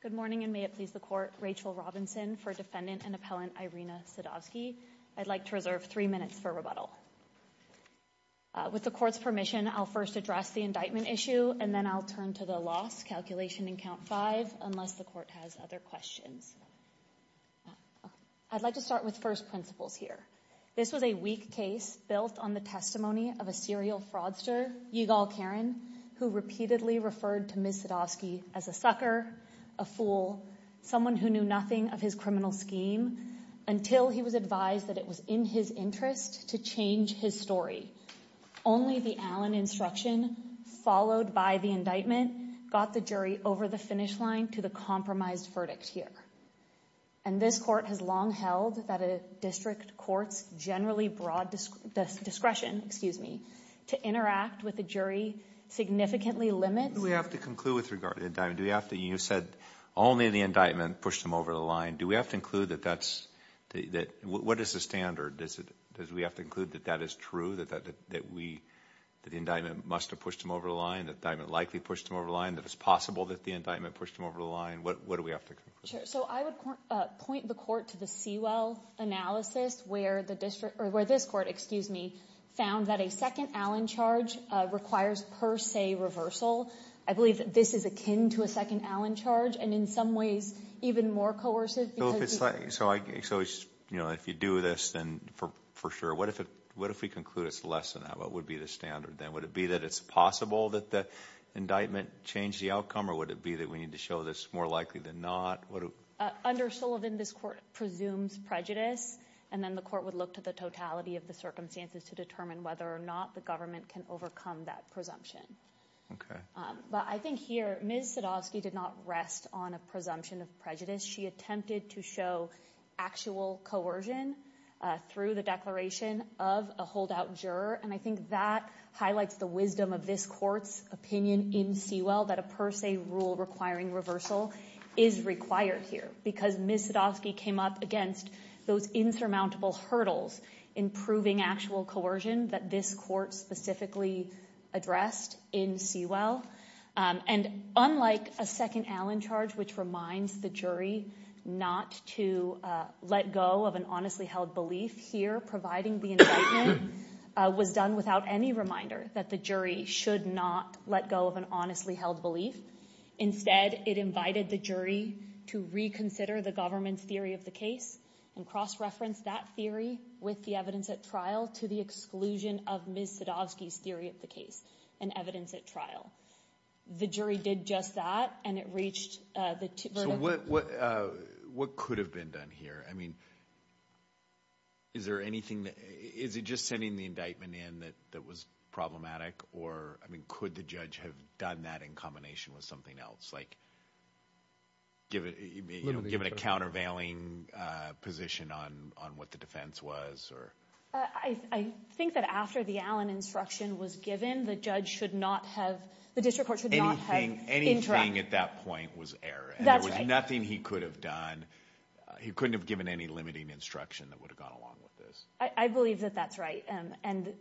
Good morning, and may it please the Court, Rachel Robinson for Defendant and Appellant Irina Sadovsky. I'd like to reserve three minutes for rebuttal. With the Court's permission, I'll first address the indictment issue, and then I'll turn to the loss calculation in Count 5, unless the Court has other questions. I'd like to start with first principles here. This was a weak case built on the testimony of a serial fraudster, Yigal Karen, who repeatedly referred to Ms. Sadovsky as a sucker, a fool, someone who knew nothing of his criminal scheme, until he was advised that it was in his interest to change his story. Only the Allen instruction, followed by the indictment, got the jury over the finish line to the compromised verdict here. And this Court has long held that a district court's generally broad discretion, excuse me, to interact with the jury significantly limits- Do we have to conclude with regard to the indictment? Do we have to, you said only the indictment pushed him over the line. Do we have to include that that's, what is the standard? Does we have to include that that is true, that the indictment must have pushed him over the line, that the indictment likely pushed him over the line, that it's possible that the indictment pushed him over the line? What do we have to conclude? Sure. So I would point the Court to the Sewell analysis where the district, or where this Court, excuse me, found that a second Allen charge requires per se reversal. I believe that this is akin to a second Allen charge, and in some ways even more coercive because- So if you do this, then for sure, what if we conclude it's less than that? What would be the standard then? Would it be that it's possible that the indictment changed the outcome, or would it be that we need to show this is more likely than not? Under Sullivan, this Court presumes prejudice, and then the Court would look to the totality of the circumstances to determine whether or not the government can overcome that presumption. Okay. But I think here, Ms. Sadovsky did not rest on a presumption of prejudice. She attempted to show actual coercion through the declaration of a holdout juror, and I think that highlights the wisdom of this Court's opinion in Sewell that a per se rule requiring reversal is required here because Ms. Sadovsky came up against those insurmountable hurdles in proving actual coercion that this Court specifically addressed in Sewell. And unlike a second Allen charge, which reminds the jury not to let go of an honestly held belief, here providing the indictment was done without any reminder that the jury should not let go of an honestly held belief. Instead, it invited the jury to reconsider the government's theory of the case and cross-reference that theory with the evidence at trial to the exclusion of Ms. Sadovsky's theory of the case and evidence at trial. The jury did just that, and it reached the... So what could have been done here? I mean, is there anything that... Is it just sending the indictment in that was problematic? Or, I mean, could the judge have done that in combination with something else, like give it, you know, give it a countervailing position on what the defense was, or... I think that after the Allen instruction was given, the judge should not have... The district court should not have... Anything at that point was error. That's right. There was nothing he could have done. He couldn't have given any limiting instruction that would have gone along with this. I believe that that's right. And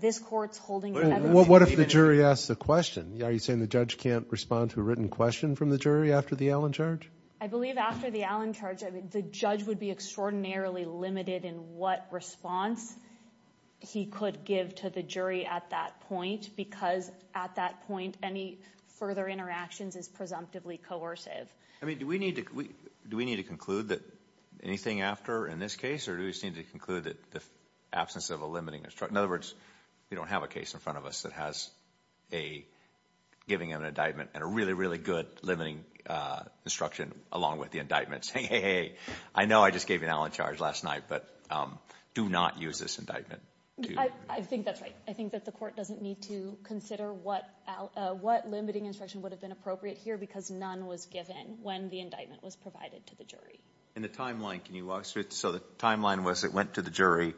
this court's holding... What if the jury asks the question? Are you saying the judge can't respond to a written question from the jury after the Allen charge? I believe after the Allen charge, the judge would be extraordinarily limited in what response he could give to the jury at that point, because at that point, any further interactions is presumptively coercive. I mean, do we need to... Do we need to conclude that anything after in this case, or do we seem to conclude that the absence of a limiting instruction... In other words, we don't have a case in front of us that has a... Giving an indictment and a really, really good limiting instruction along with the indictments. Hey, hey, hey, I know I just gave you an Allen charge last night, but do not use this indictment. I think that's right. I think that the court doesn't need to consider what limiting instruction would have been appropriate here, because none was given when the indictment was provided to the jury. In the timeline, can you walk us through... So the timeline was it went to the jury,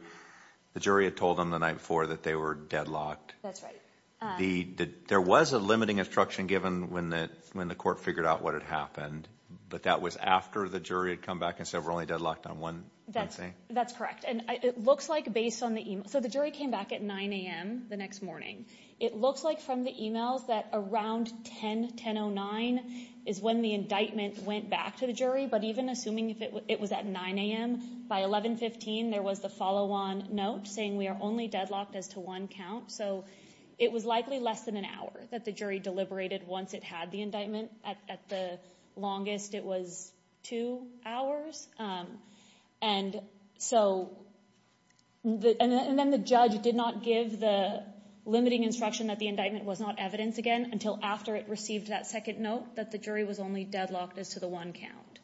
the jury had told them the night before that they were deadlocked. That's right. There was a limiting instruction given when the court figured out what had happened, but that was after the jury had come back and said, we're only deadlocked on one thing? That's correct. And it looks like based on the email... So the jury came back at 9 a.m. the next morning. It looks like from the emails that around 10, 10.09 is when the indictment went back to the jury. But even assuming it was at 9 a.m., by 11.15, there was the follow-on note saying we are only deadlocked as to one count. So it was likely less than an hour that the jury deliberated once it had the indictment. At the longest, it was two hours. And so... And then the judge did not give the limiting instruction that the indictment was not evidence again until after it received that second note that the jury was only deadlocked as to the one count.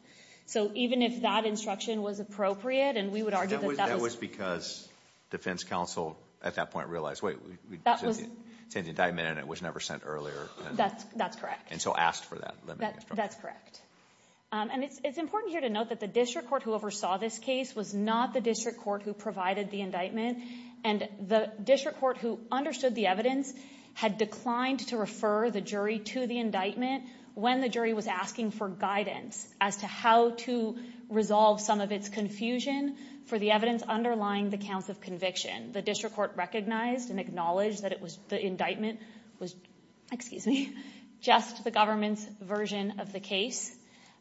So even if that instruction was appropriate, and we would argue that that was... That was because defense counsel at that point realized, wait, it's an indictment and it was never sent earlier. That's correct. And so asked for that limiting instruction. That's correct. And it's important here to note that the district court who oversaw this case was not the district court who provided the indictment. And the district court who understood the evidence had declined to refer the jury to the indictment when the jury was asking for guidance as to how to resolve some of its confusion for the evidence underlying the counts of conviction. The district court recognized and acknowledged that it was... The indictment was... Excuse me. Just the government's version of the case.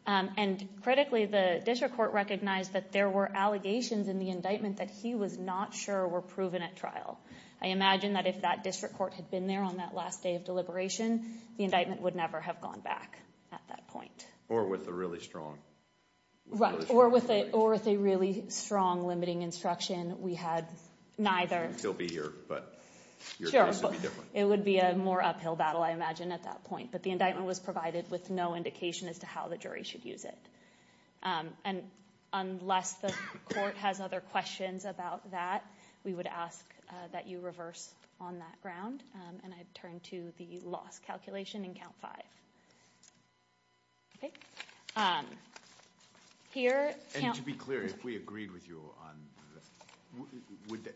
And critically, the district court recognized that there were allegations in the indictment that he was not sure were proven at trial. I imagine that if that district court had been there on that last day of deliberation, the indictment would never have gone back at that point. Or with a really strong... Right. Or with a really strong limiting instruction, we had neither. You'd still be here, but your case would be different. It would be a more uphill battle, I imagine, at that point. But the indictment was provided with no indication as to how the jury should use it. And unless the court has other questions about that, we would ask that you reverse on that ground. And I'd turn to the loss calculation in count five. Okay. Here... And to be clear, if we agreed with you on...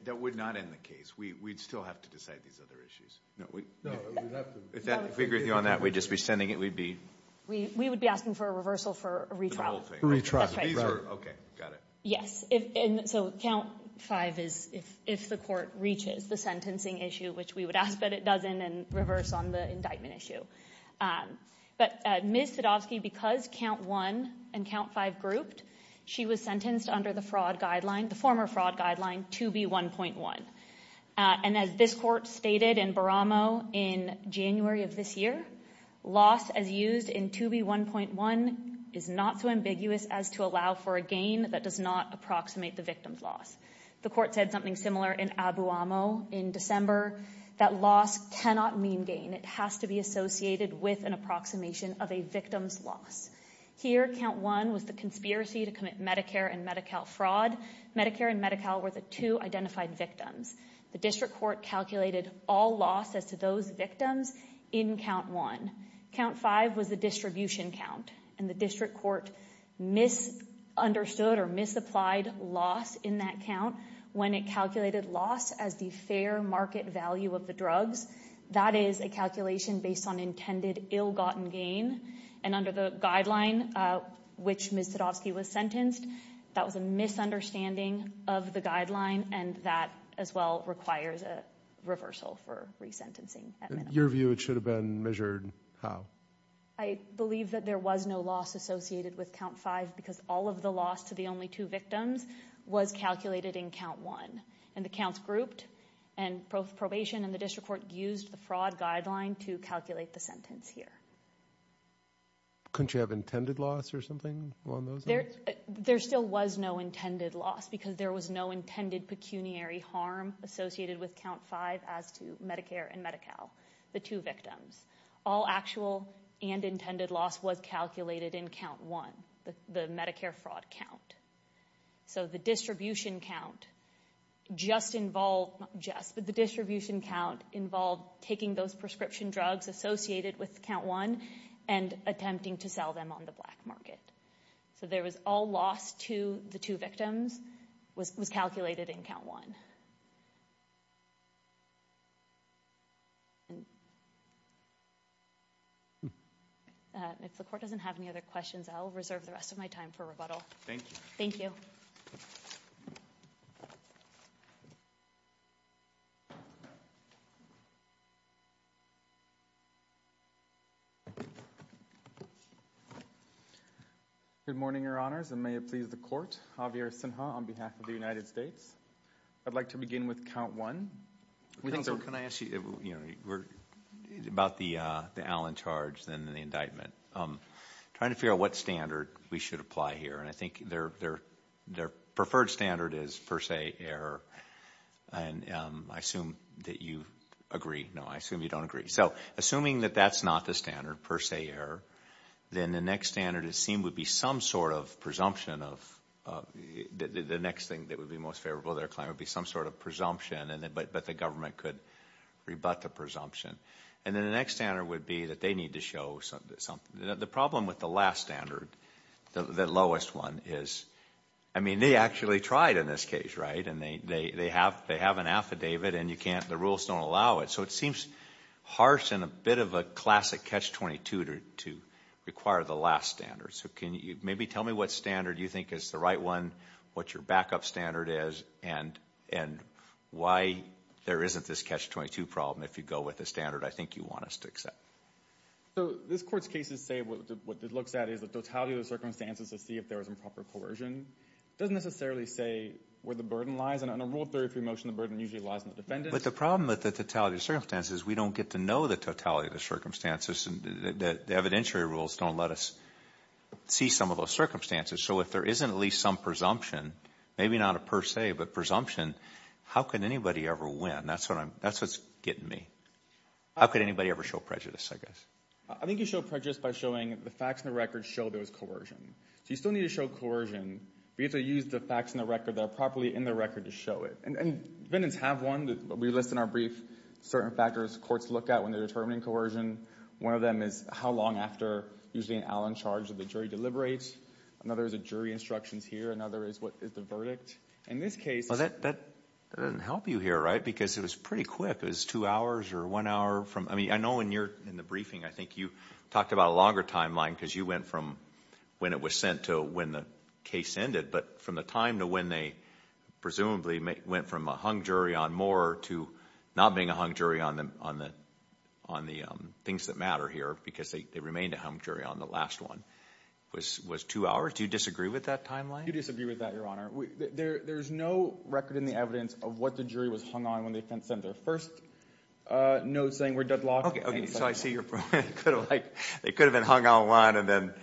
That would not end the case. We'd still have to decide these other issues. No, we... No, we'd have to... If we agreed with you on that, we'd just be sending it. We'd be... We would be asking for a reversal for a retrial. Retrial. These are... Okay. Got it. Yes. And so count five is if the court reaches the sentencing issue, which we would ask that it doesn't, and reverse on the indictment issue. But Ms. Sadovsky, because count one and count five grouped, she was sentenced under the fraud guideline, the former fraud guideline, 2B1.1. And as this court stated in Baramo in January of this year, loss as in 2B1.1 is not so ambiguous as to allow for a gain that does not approximate the victim's loss. The court said something similar in Abuamo in December, that loss cannot mean gain. It has to be associated with an approximation of a victim's loss. Here, count one was the conspiracy to commit Medicare and Medi-Cal fraud. Medicare and Medi-Cal were the two identified victims. The district court calculated all loss as to those victims in count one. Count five was the distribution count. And the district court misunderstood or misapplied loss in that count when it calculated loss as the fair market value of the drugs. That is a calculation based on intended ill-gotten gain. And under the guideline, which Ms. Sadovsky was sentenced, that was a misunderstanding of the guideline. And that as well requires a reversal for resentencing. Your view, it should have been measured how? I believe that there was no loss associated with count five because all of the loss to the only two victims was calculated in count one. And the counts grouped and both probation and the district court used the fraud guideline to calculate the sentence here. Couldn't you have intended loss or something along those lines? There still was no intended loss because there was no intended pecuniary harm associated with count five as to Medicare and Medi-Cal, the two victims. All actual and intended loss was calculated in count one, the Medicare fraud count. So the distribution count just involved, not just, but the distribution count involved taking those prescription drugs associated with count one and attempting to sell them on the black market. So there was all loss to the two victims was calculated in count one. If the court doesn't have any other questions, I'll reserve the rest of my time for rebuttal. Thank you. Good morning, Your Honors, and may it please the court. Javier Sinha on behalf of the United States. I'd like to begin with count one. Can I ask you about the Allen charge and the indictment? I'm trying to figure out what we should apply here, and I think their preferred standard is per se error. And I assume that you agree. No, I assume you don't agree. So assuming that that's not the standard per se error, then the next standard it seemed would be some sort of presumption of, the next thing that would be most favorable, there would be some sort of presumption, but the government could rebut the presumption. And then the next standard would be that they need to show something. The problem with the last standard, the lowest one is, I mean, they actually tried in this case, right? And they have an affidavit and the rules don't allow it. So it seems harsh and a bit of a classic catch-22 to require the last standard. So can you maybe tell me what standard you think is the right one, what your backup standard is, and why there isn't this catch-22 problem if you go with the standard I think you want us to accept? So this Court's cases say what it looks at is the totality of the circumstances to see if there was improper coercion. It doesn't necessarily say where the burden lies, and on a Rule 33 motion, the burden usually lies on the defendant. But the problem with the totality of circumstances is we don't get to know the totality of the circumstances, and the evidentiary rules don't let us see some of those circumstances. So if there isn't at least some presumption, maybe not a per se, but presumption, how can anybody ever win? That's what I'm, that's what's getting me. How could anybody ever show prejudice, I guess? I think you show prejudice by showing the facts in the record show there was coercion. So you still need to show coercion, but you have to use the facts in the record that are properly in the record to show it. And defendants have one that we list in our brief, certain factors courts look at when they're determining coercion. One of them is how long after, usually an Allen charge that the jury deliberates. Another is a jury instructions here. Another is what is the verdict. In this case... Well, that doesn't help you here, right? Because it was pretty quick. It was two hours or one hour from, I mean, I know when you're in the briefing, I think you talked about a longer timeline because you went from when it was sent to when the case ended, but from the time to when they presumably went from a hung jury on Moore to not being a hung jury on the things that matter here, because they remained a hung jury on the last one, was two hours. Do you disagree with that timeline? I do disagree with that, Your Honor. There's no record in the evidence of what the jury was hung on when they sent their first note saying we're deadlocked. Okay, so I see you're like, they could have been hung on one and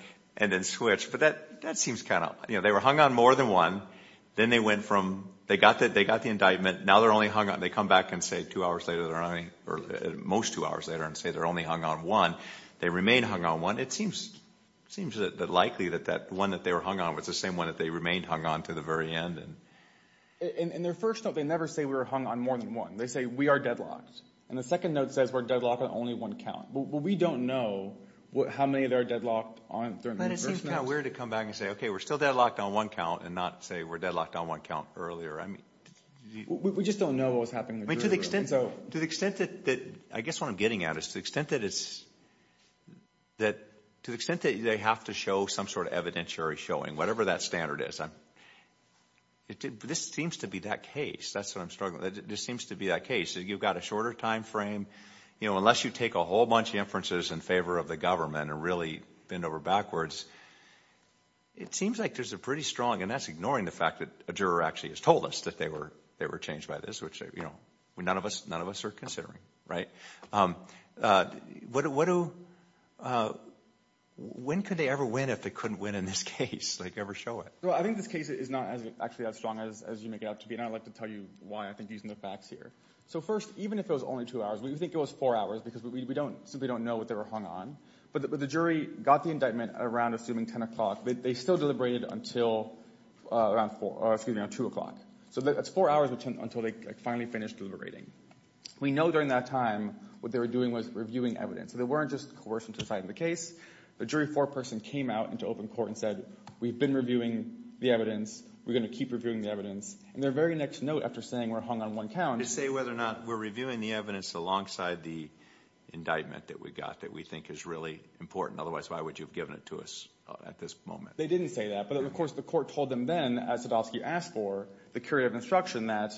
then switched, but that seems kind of, you know, they were hung on more than one. Then they went from, they got the indictment. Now they're only hung on, they come back and say two hours later, or most two hours later, and say they're only hung on one. They remain hung on one. It seems that likely that that one that they were hung on was the same one that they remained hung on to the very end. In their first note, they never say we were hung on more than one. They say we are deadlocked, and the second note says we're deadlocked on only one count. Well, we don't know how many they're deadlocked on. It seems kind of weird to come back and say, okay, we're still deadlocked on one count and not say we're deadlocked on one count earlier. We just don't know what was happening. I mean, to the extent that, I guess what I'm saying is, to the extent that they have to show some sort of evidentiary showing, whatever that standard is, this seems to be that case. That's what I'm struggling with. This seems to be that case. You've got a shorter time frame. You know, unless you take a whole bunch of inferences in favor of the government and really bend over backwards, it seems like there's a pretty strong, and that's ignoring the fact that a juror actually has told us that they were changed by this, which none of us are considering. When could they ever win if they couldn't win in this case, like ever show it? Well, I think this case is not actually as strong as you make it out to be, and I'd like to tell you why I think using the facts here. So first, even if it was only two hours, we think it was four hours because we simply don't know what they were hung on, but the jury got the indictment around assuming 10 o'clock. They still deliberated until around two o'clock. So that's four hours until they finally finished deliberating. We know during that time what they were doing was reviewing evidence. So they weren't just coercing to the side of the case. The jury foreperson came out into open court and said, we've been reviewing the evidence. We're going to keep reviewing the evidence, and their very next note after saying we're hung on one count. To say whether or not we're reviewing the evidence alongside the indictment that we got that we think is really important. Otherwise, why would you have given it to us at this moment? They didn't say that. But of course, the court told them then, as Sadowski asked for, the curative instruction that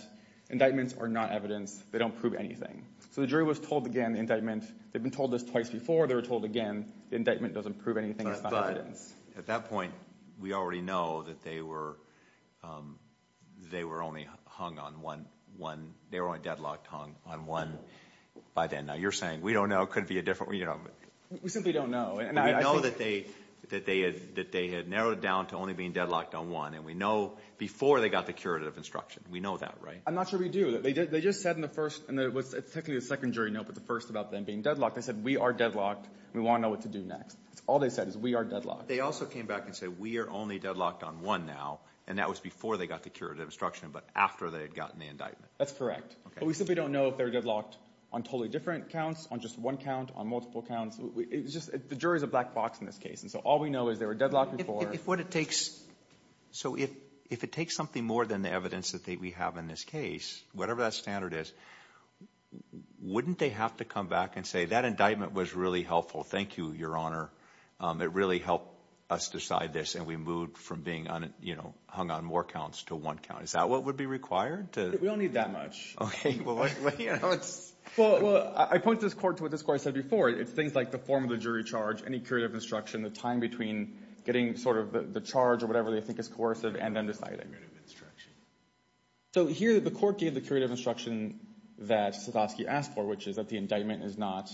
indictments are not evidence. They don't prove anything. So the jury was told again, the indictment, they've been told this twice before, they were told again, the indictment doesn't prove anything. But at that point, we already know that they were only hung on one. They were only deadlocked on one by then. Now you're saying we don't know. It could be a different, you know. We simply don't know. We know that they had narrowed it down to only being deadlocked on one. And we know before they got the curative instruction. We know that, right? I'm not sure we do. They just said in the first, and it was technically a second jury note, but the first about them being deadlocked. They said, we are deadlocked. We want to know what to do next. All they said is we are deadlocked. They also came back and said, we are only deadlocked on one now. And that was before they got the curative instruction, but after they had gotten the indictment. That's correct. But we simply don't know if they're deadlocked on totally different counts, on just one count, on multiple counts. The jury is a black box in this case. And so all we know is they were deadlocked before. So if it takes something more than the evidence that we have in this case, whatever that standard is, wouldn't they have to come back and say, that indictment was really helpful. Thank you, Your Honor. It really helped us decide this. And we moved from being hung on more counts to one count. Is that what would be required? We don't need that much. Okay. Well, I point this court to what this court said before. It's things like the form of the jury charge, any curative instruction, the time between getting sort of the charge or whatever they think is coercive and then deciding. So here, the court gave the curative instruction that Sotofsky asked for, which is that the indictment is not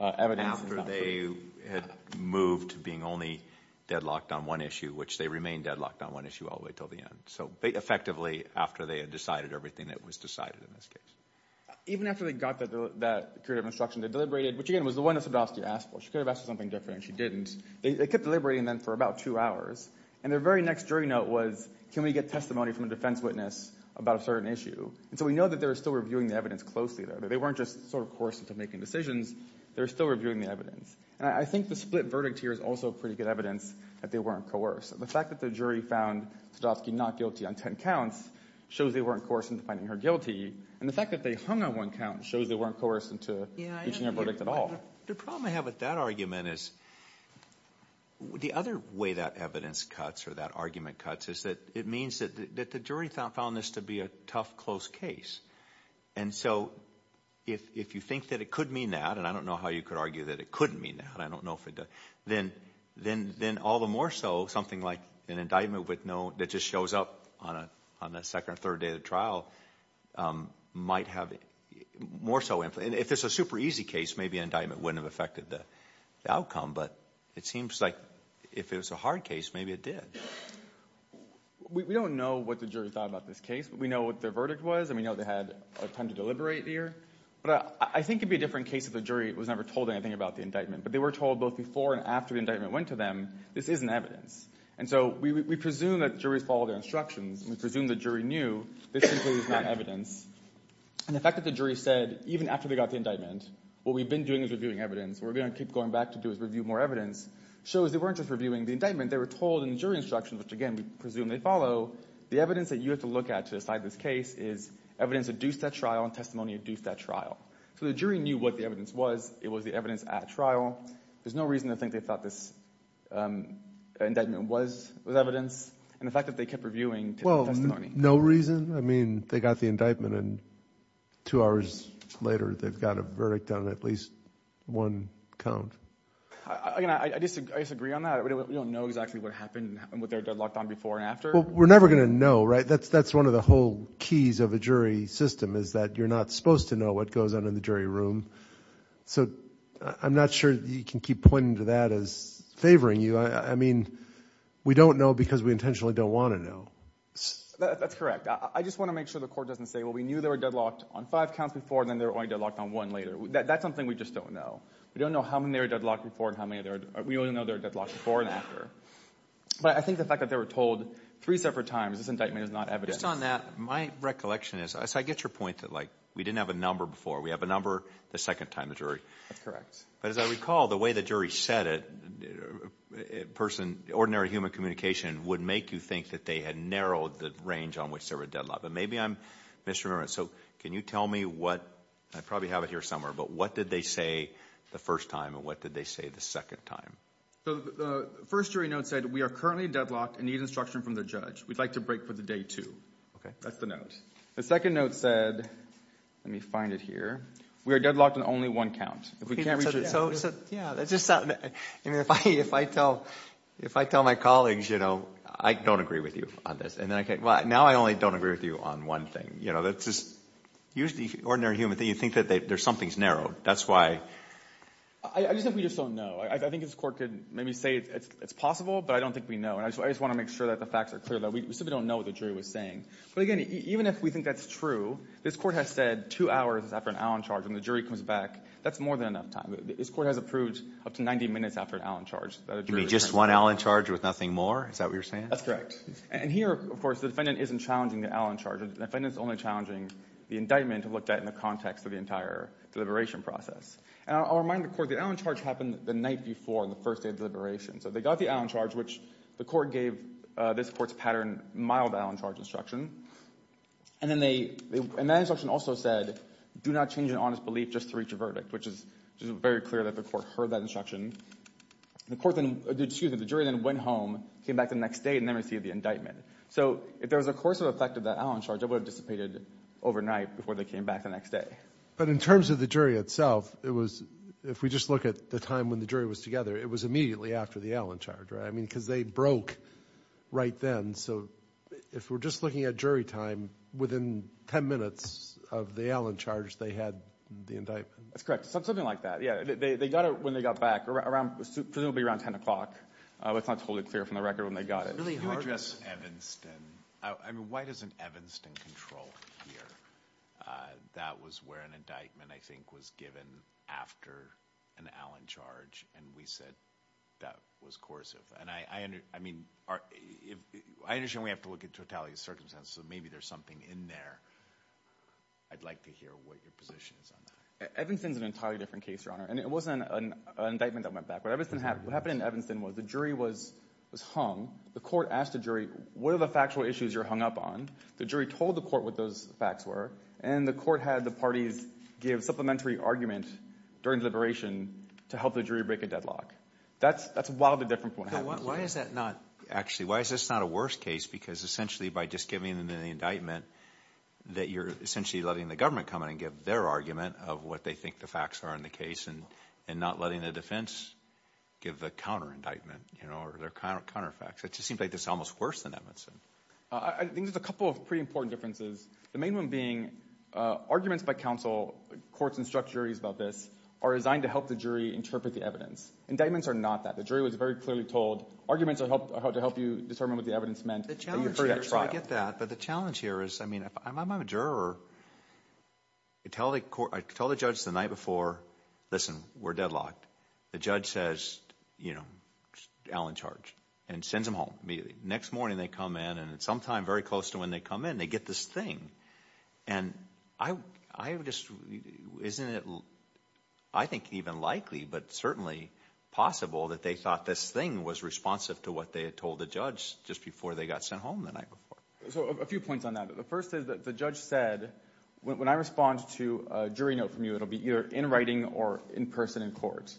evidence. After they had moved to being only deadlocked on one issue, which they remained deadlocked on one issue all the way till the end. So effectively, after they had decided everything that was decided in this case. Even after they got that curative instruction, they deliberated, which again, was the one that Sotofsky asked for. She could have asked for something different and she didn't. They kept deliberating then for about two hours. And their very next jury note was, can we get testimony from a defense witness about a certain issue? And so we know that they were still reviewing the evidence closely there. They weren't just sort of coercing to making decisions. They were still reviewing the evidence. And I think the split verdict here is also pretty good evidence that they weren't coerced. The fact that the jury found Sotofsky not guilty on 10 counts shows they weren't coerced into finding her guilty. And the fact that they hung on one count shows they weren't coerced into reaching their verdict at all. The problem I have with that argument is, the other way that evidence cuts or that argument cuts is that it means that the jury found this to be a tough, close case. And so if you think that it could mean that, and I don't know how you could argue that it couldn't mean that. I don't know if it does. Then all the more so, something like an indictment that just shows up on the second or third day of the trial might have more so influence. And if it's a super easy case, maybe an indictment wouldn't have affected the outcome. But it seems like if it was a hard case, maybe it did. We don't know what the jury thought about this case. We know what their verdict was, and we know they had a ton to deliberate here. But I think it'd be a different case if the jury was never told anything about the indictment. But they were told both before and after the trial. We presume that juries follow their instructions, and we presume the jury knew, this simply is not evidence. And the fact that the jury said, even after they got the indictment, what we've been doing is reviewing evidence, what we're going to keep going back to do is review more evidence, shows they weren't just reviewing the indictment. They were told in the jury instructions, which again, we presume they follow, the evidence that you have to look at to decide this case is evidence adduced at trial and testimony adduced at trial. So the jury knew what the evidence was. It was the evidence at trial. There's no reason to think they thought this indictment was evidence. And the fact that they kept reviewing testimony. Well, no reason. I mean, they got the indictment and two hours later, they've got a verdict on at least one count. I disagree on that. We don't know exactly what happened with their deadlocked on before and after. Well, we're never going to know, right? That's one of the whole keys of a jury system is that you're not supposed to know what goes on in the jury room. So I'm not sure you can keep pointing to that as favoring you. I mean, we don't know because we intentionally don't want to know. That's correct. I just want to make sure the court doesn't say, well, we knew they were deadlocked on five counts before and then they were only deadlocked on one later. That's something we just don't know. We don't know how many were deadlocked before and how many there are. We only know they're deadlocked before and after. But I think the fact that they were told three separate times this indictment is not evidence. Just on that, my recollection is, so I get your point that we didn't have a number before. We have a number the second time the jury. That's correct. But as I recall, the way the jury said it, ordinary human communication would make you think that they had narrowed the range on which there were deadlocked. But maybe I'm misremembering. So can you tell me what, I probably have it here somewhere, but what did they say the first time and what did they say the second time? So the first jury note said, we are currently deadlocked and need instruction from the judge. We'd like to break for the day two. Okay. That's the note. The second note said, let me find it here. We are deadlocked on only one count. If we can't reach it. So yeah, that's just something that, I mean, if I tell my colleagues, you know, I don't agree with you on this. And then I can't, well, now I only don't agree with you on one thing. You know, that's just usually ordinary human that you think that there's something's narrowed. That's why. I just think we just don't know. I think this court could maybe say it's possible, but I don't think we know. And I just want to make sure that the facts are clear that we simply don't know what the jury was saying. But again, even if we think that's true, this court has said two hours after an Allen charge, when the jury comes back, that's more than enough time. This court has approved up to 90 minutes after an Allen charge. You mean just one Allen charge with nothing more? Is that what you're saying? That's correct. And here, of course, the defendant isn't challenging the Allen charge. The defendant's only challenging the indictment looked at in the context of the entire deliberation process. And I'll remind the court, the Allen charge happened the night before, the first day of deliberation. So they got the Allen charge, which the court gave this court's pattern mild Allen charge instruction. And then they, and that instruction also said, do not change an honest belief just to reach a verdict, which is just very clear that the court heard that instruction. The court then, excuse me, the jury then went home, came back the next day, and then received the indictment. So if there was a coercive effect of that Allen charge, it would have dissipated overnight before they came back the next day. But in terms of the jury itself, it was, if we just look at the time when the jury was together, it was immediately after the Allen charge, right? I mean, because they broke right then. So if we're just looking at jury time within 10 minutes of the Allen charge, they had the indictment. That's correct. Something like that. Yeah. They got it when they got back around, presumably around 10 o'clock. It's not totally clear from the record when they got it. Can you address Evanston? I mean, why doesn't Evanston control here? That was where an we said that was coercive. And I understand we have to look at totality of circumstances, so maybe there's something in there. I'd like to hear what your position is on that. Evanston's an entirely different case, Your Honor. And it wasn't an indictment that went back. What happened in Evanston was the jury was hung. The court asked the jury, what are the factual issues you're hung up on? The jury told the court what those facts were. And the court had the parties give supplementary argument during deliberation to help the jury break a deadlock. That's a wildly different point. Actually, why is this not a worse case? Because essentially by just giving them the indictment, that you're essentially letting the government come in and give their argument of what they think the facts are in the case and not letting the defense give the counter indictment or their counter facts. It just seems like it's almost worse than Evanston. I think there's a couple of pretty important differences. The main one being arguments by counsel, courts instruct juries about this, are designed to help the jury interpret the evidence. Indictments are not that. The jury was very clearly told, arguments are to help you determine what the evidence meant. The challenge here, so I get that, but the challenge here is, I mean, I'm a juror. I tell the judge the night before, listen, we're deadlocked. The judge says, you know, Al in charge and sends him home immediately. Next morning they come in and sometime very close to when they come in, they get this thing. And I just, isn't it, I think even likely, but certainly possible that they thought this thing was responsive to what they had told the judge just before they got sent home the night before. So a few points on that. The first is that the judge said, when I respond to a jury note from you, it'll be either in writing or in person in court.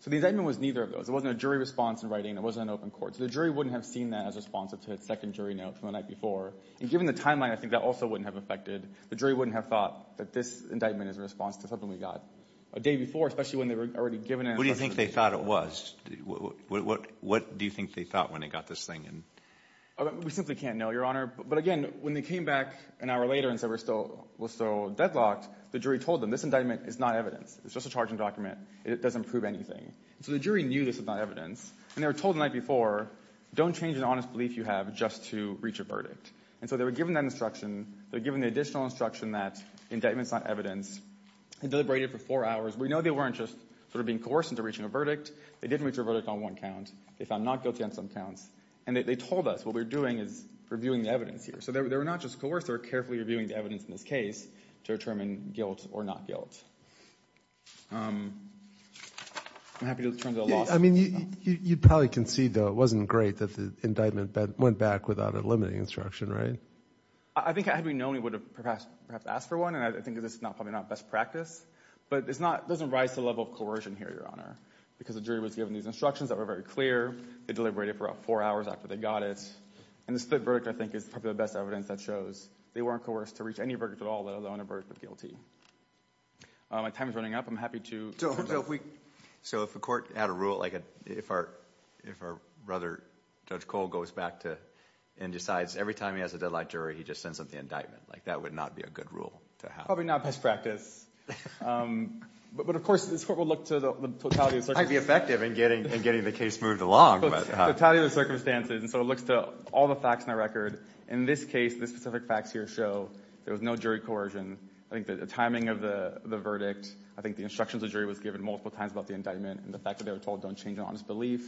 So the indictment was neither of those. It wasn't a jury response in writing. It wasn't an open court. So the jury wouldn't have seen that as responsive to the second jury note from the night before. And given the timeline, I think that also wouldn't have affected. The jury wouldn't have thought that this indictment is a response to something we got a day before, especially when they were already given it. What do you think they thought it was? What do you think they thought when they got this thing? We simply can't know, Your Honor. But again, when they came back an hour later and said we're still deadlocked, the jury told them this indictment is not evidence. It's just a charging document. It doesn't prove anything. So the jury knew this was not evidence and they were told the night before, don't change an honest belief you have just to reach a verdict. And so they were given that instruction. They were given the additional instruction that the indictment's not evidence. They deliberated for four hours. We know they weren't just sort of being coerced into reaching a verdict. They didn't reach a verdict on one count. They found not guilty on some counts. And they told us what we're doing is reviewing the evidence here. So they were not just coerced. They were carefully reviewing the evidence in this case to determine guilt or not guilt. I'm happy to turn to the law. I mean, you probably concede though it wasn't great that the indictment went back without a limiting instruction, right? I think had we known, we would have perhaps asked for one. And I think this is probably not best practice. But it doesn't rise to the level of coercion here, Your Honor, because the jury was given these instructions that were very clear. They deliberated for about four hours after they got it. And the split verdict, I think, is probably the best evidence that shows they weren't coerced to reach any verdict at all, let alone a verdict of guilty. My time is running up. I'm happy to... So if a court had a rule, like if our brother, Judge Cole, goes back and decides every time he has a deadline jury, he just sends up the indictment, that would not be a good rule to have? Probably not best practice. But of course, this court will look to the totality of circumstances. It might be effective in getting the case moved along. But the totality of the circumstances. And so it looks to all the facts in the record. In this case, the specific facts here show there was no jury coercion. I think the timing of the verdict, I think the instructions the jury was given multiple times about the indictment, and the fact that they were told don't change an honest belief,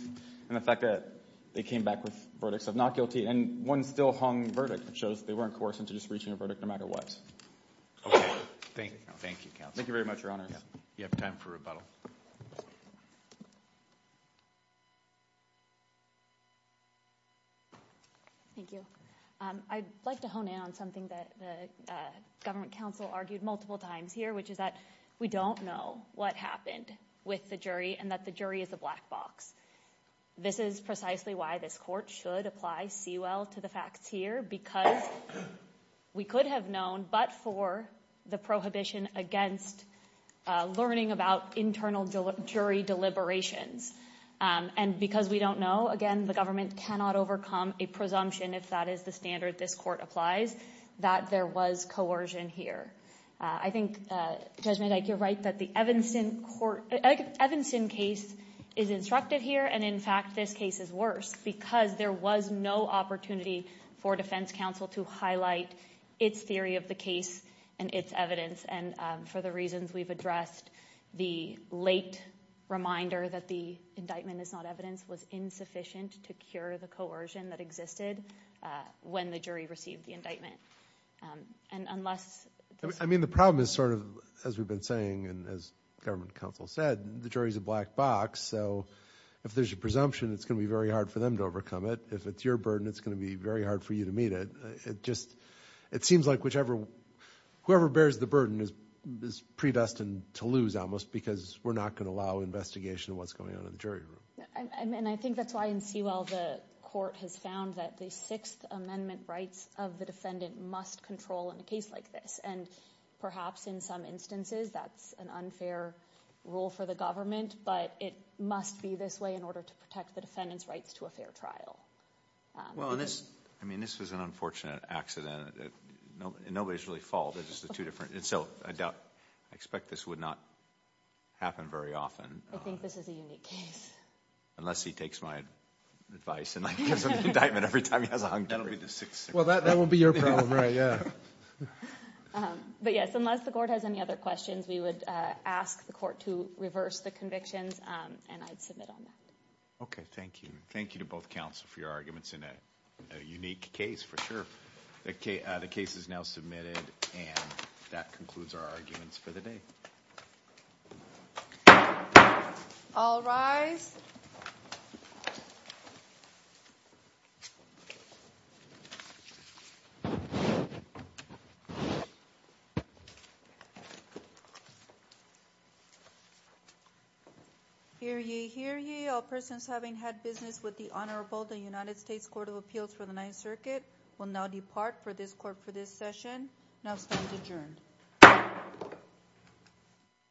and the fact that they came back with verdicts of not guilty. And one still hung verdict, which shows they weren't coerced into just reaching a verdict no matter what. Okay. Thank you, counsel. Thank you very much, Your Honor. You have time for rebuttal. Thank you. I'd like to hone in on something that the government counsel argued multiple times here, which is that we don't know what happened with the jury, and that the jury is a black box. This is precisely why this court should apply C-Well to the facts here, because we could have known but for the prohibition against learning about internal jury deliberations. And because we don't know, again, the government cannot overcome a presumption, if that is the standard this court applies, that there was coercion here. I think, Judge Medak, you're right that the Evanson case is instructive here, and in fact, this case is worse, because there was no opportunity for defense counsel to highlight its theory of the case and its evidence. And for the reasons we've addressed, the late reminder that the indictment is not evidence was insufficient to cure the coercion that existed when the jury received the indictment. And unless... I mean, the problem is sort of, as we've been saying, and as government counsel said, the jury is a black box. So if there's a presumption, it's going to be very hard for them to overcome it. If it's your burden, it's going to be very hard for you to meet it. It just, it seems like whichever, whoever bears the burden is predestined to lose almost, because we're not going to allow investigation of what's going on in the jury room. And I think that's why in Sewell, the court has found that the Sixth Amendment rights of the defendant must control in a case like this. And perhaps in some instances, that's an unfair rule for the government, but it must be this way in order to protect the defendant's rights to a fair trial. Well, and this, I mean, this was an unfortunate accident. Nobody's really fault. It's just the two different... And so, I doubt, I expect this would not happen very often. I think this is a unique case. Unless he takes my advice and gives him the indictment every time he has a hung jury. That'll be the Sixth Amendment. Well, that will be your problem, right? Yeah. But yes, unless the court has any other questions, we would ask the court to reverse the convictions and I'd submit on that. Okay. Thank you. Thank you to both counsel for your arguments in a unique case, for sure. The case is now submitted and that concludes our arguments for the day. All rise. Hear ye, hear ye. All persons having had business with the Honorable United States Court of Appeals for the Ninth Circuit will now depart for this court for this session. Now stand adjourned.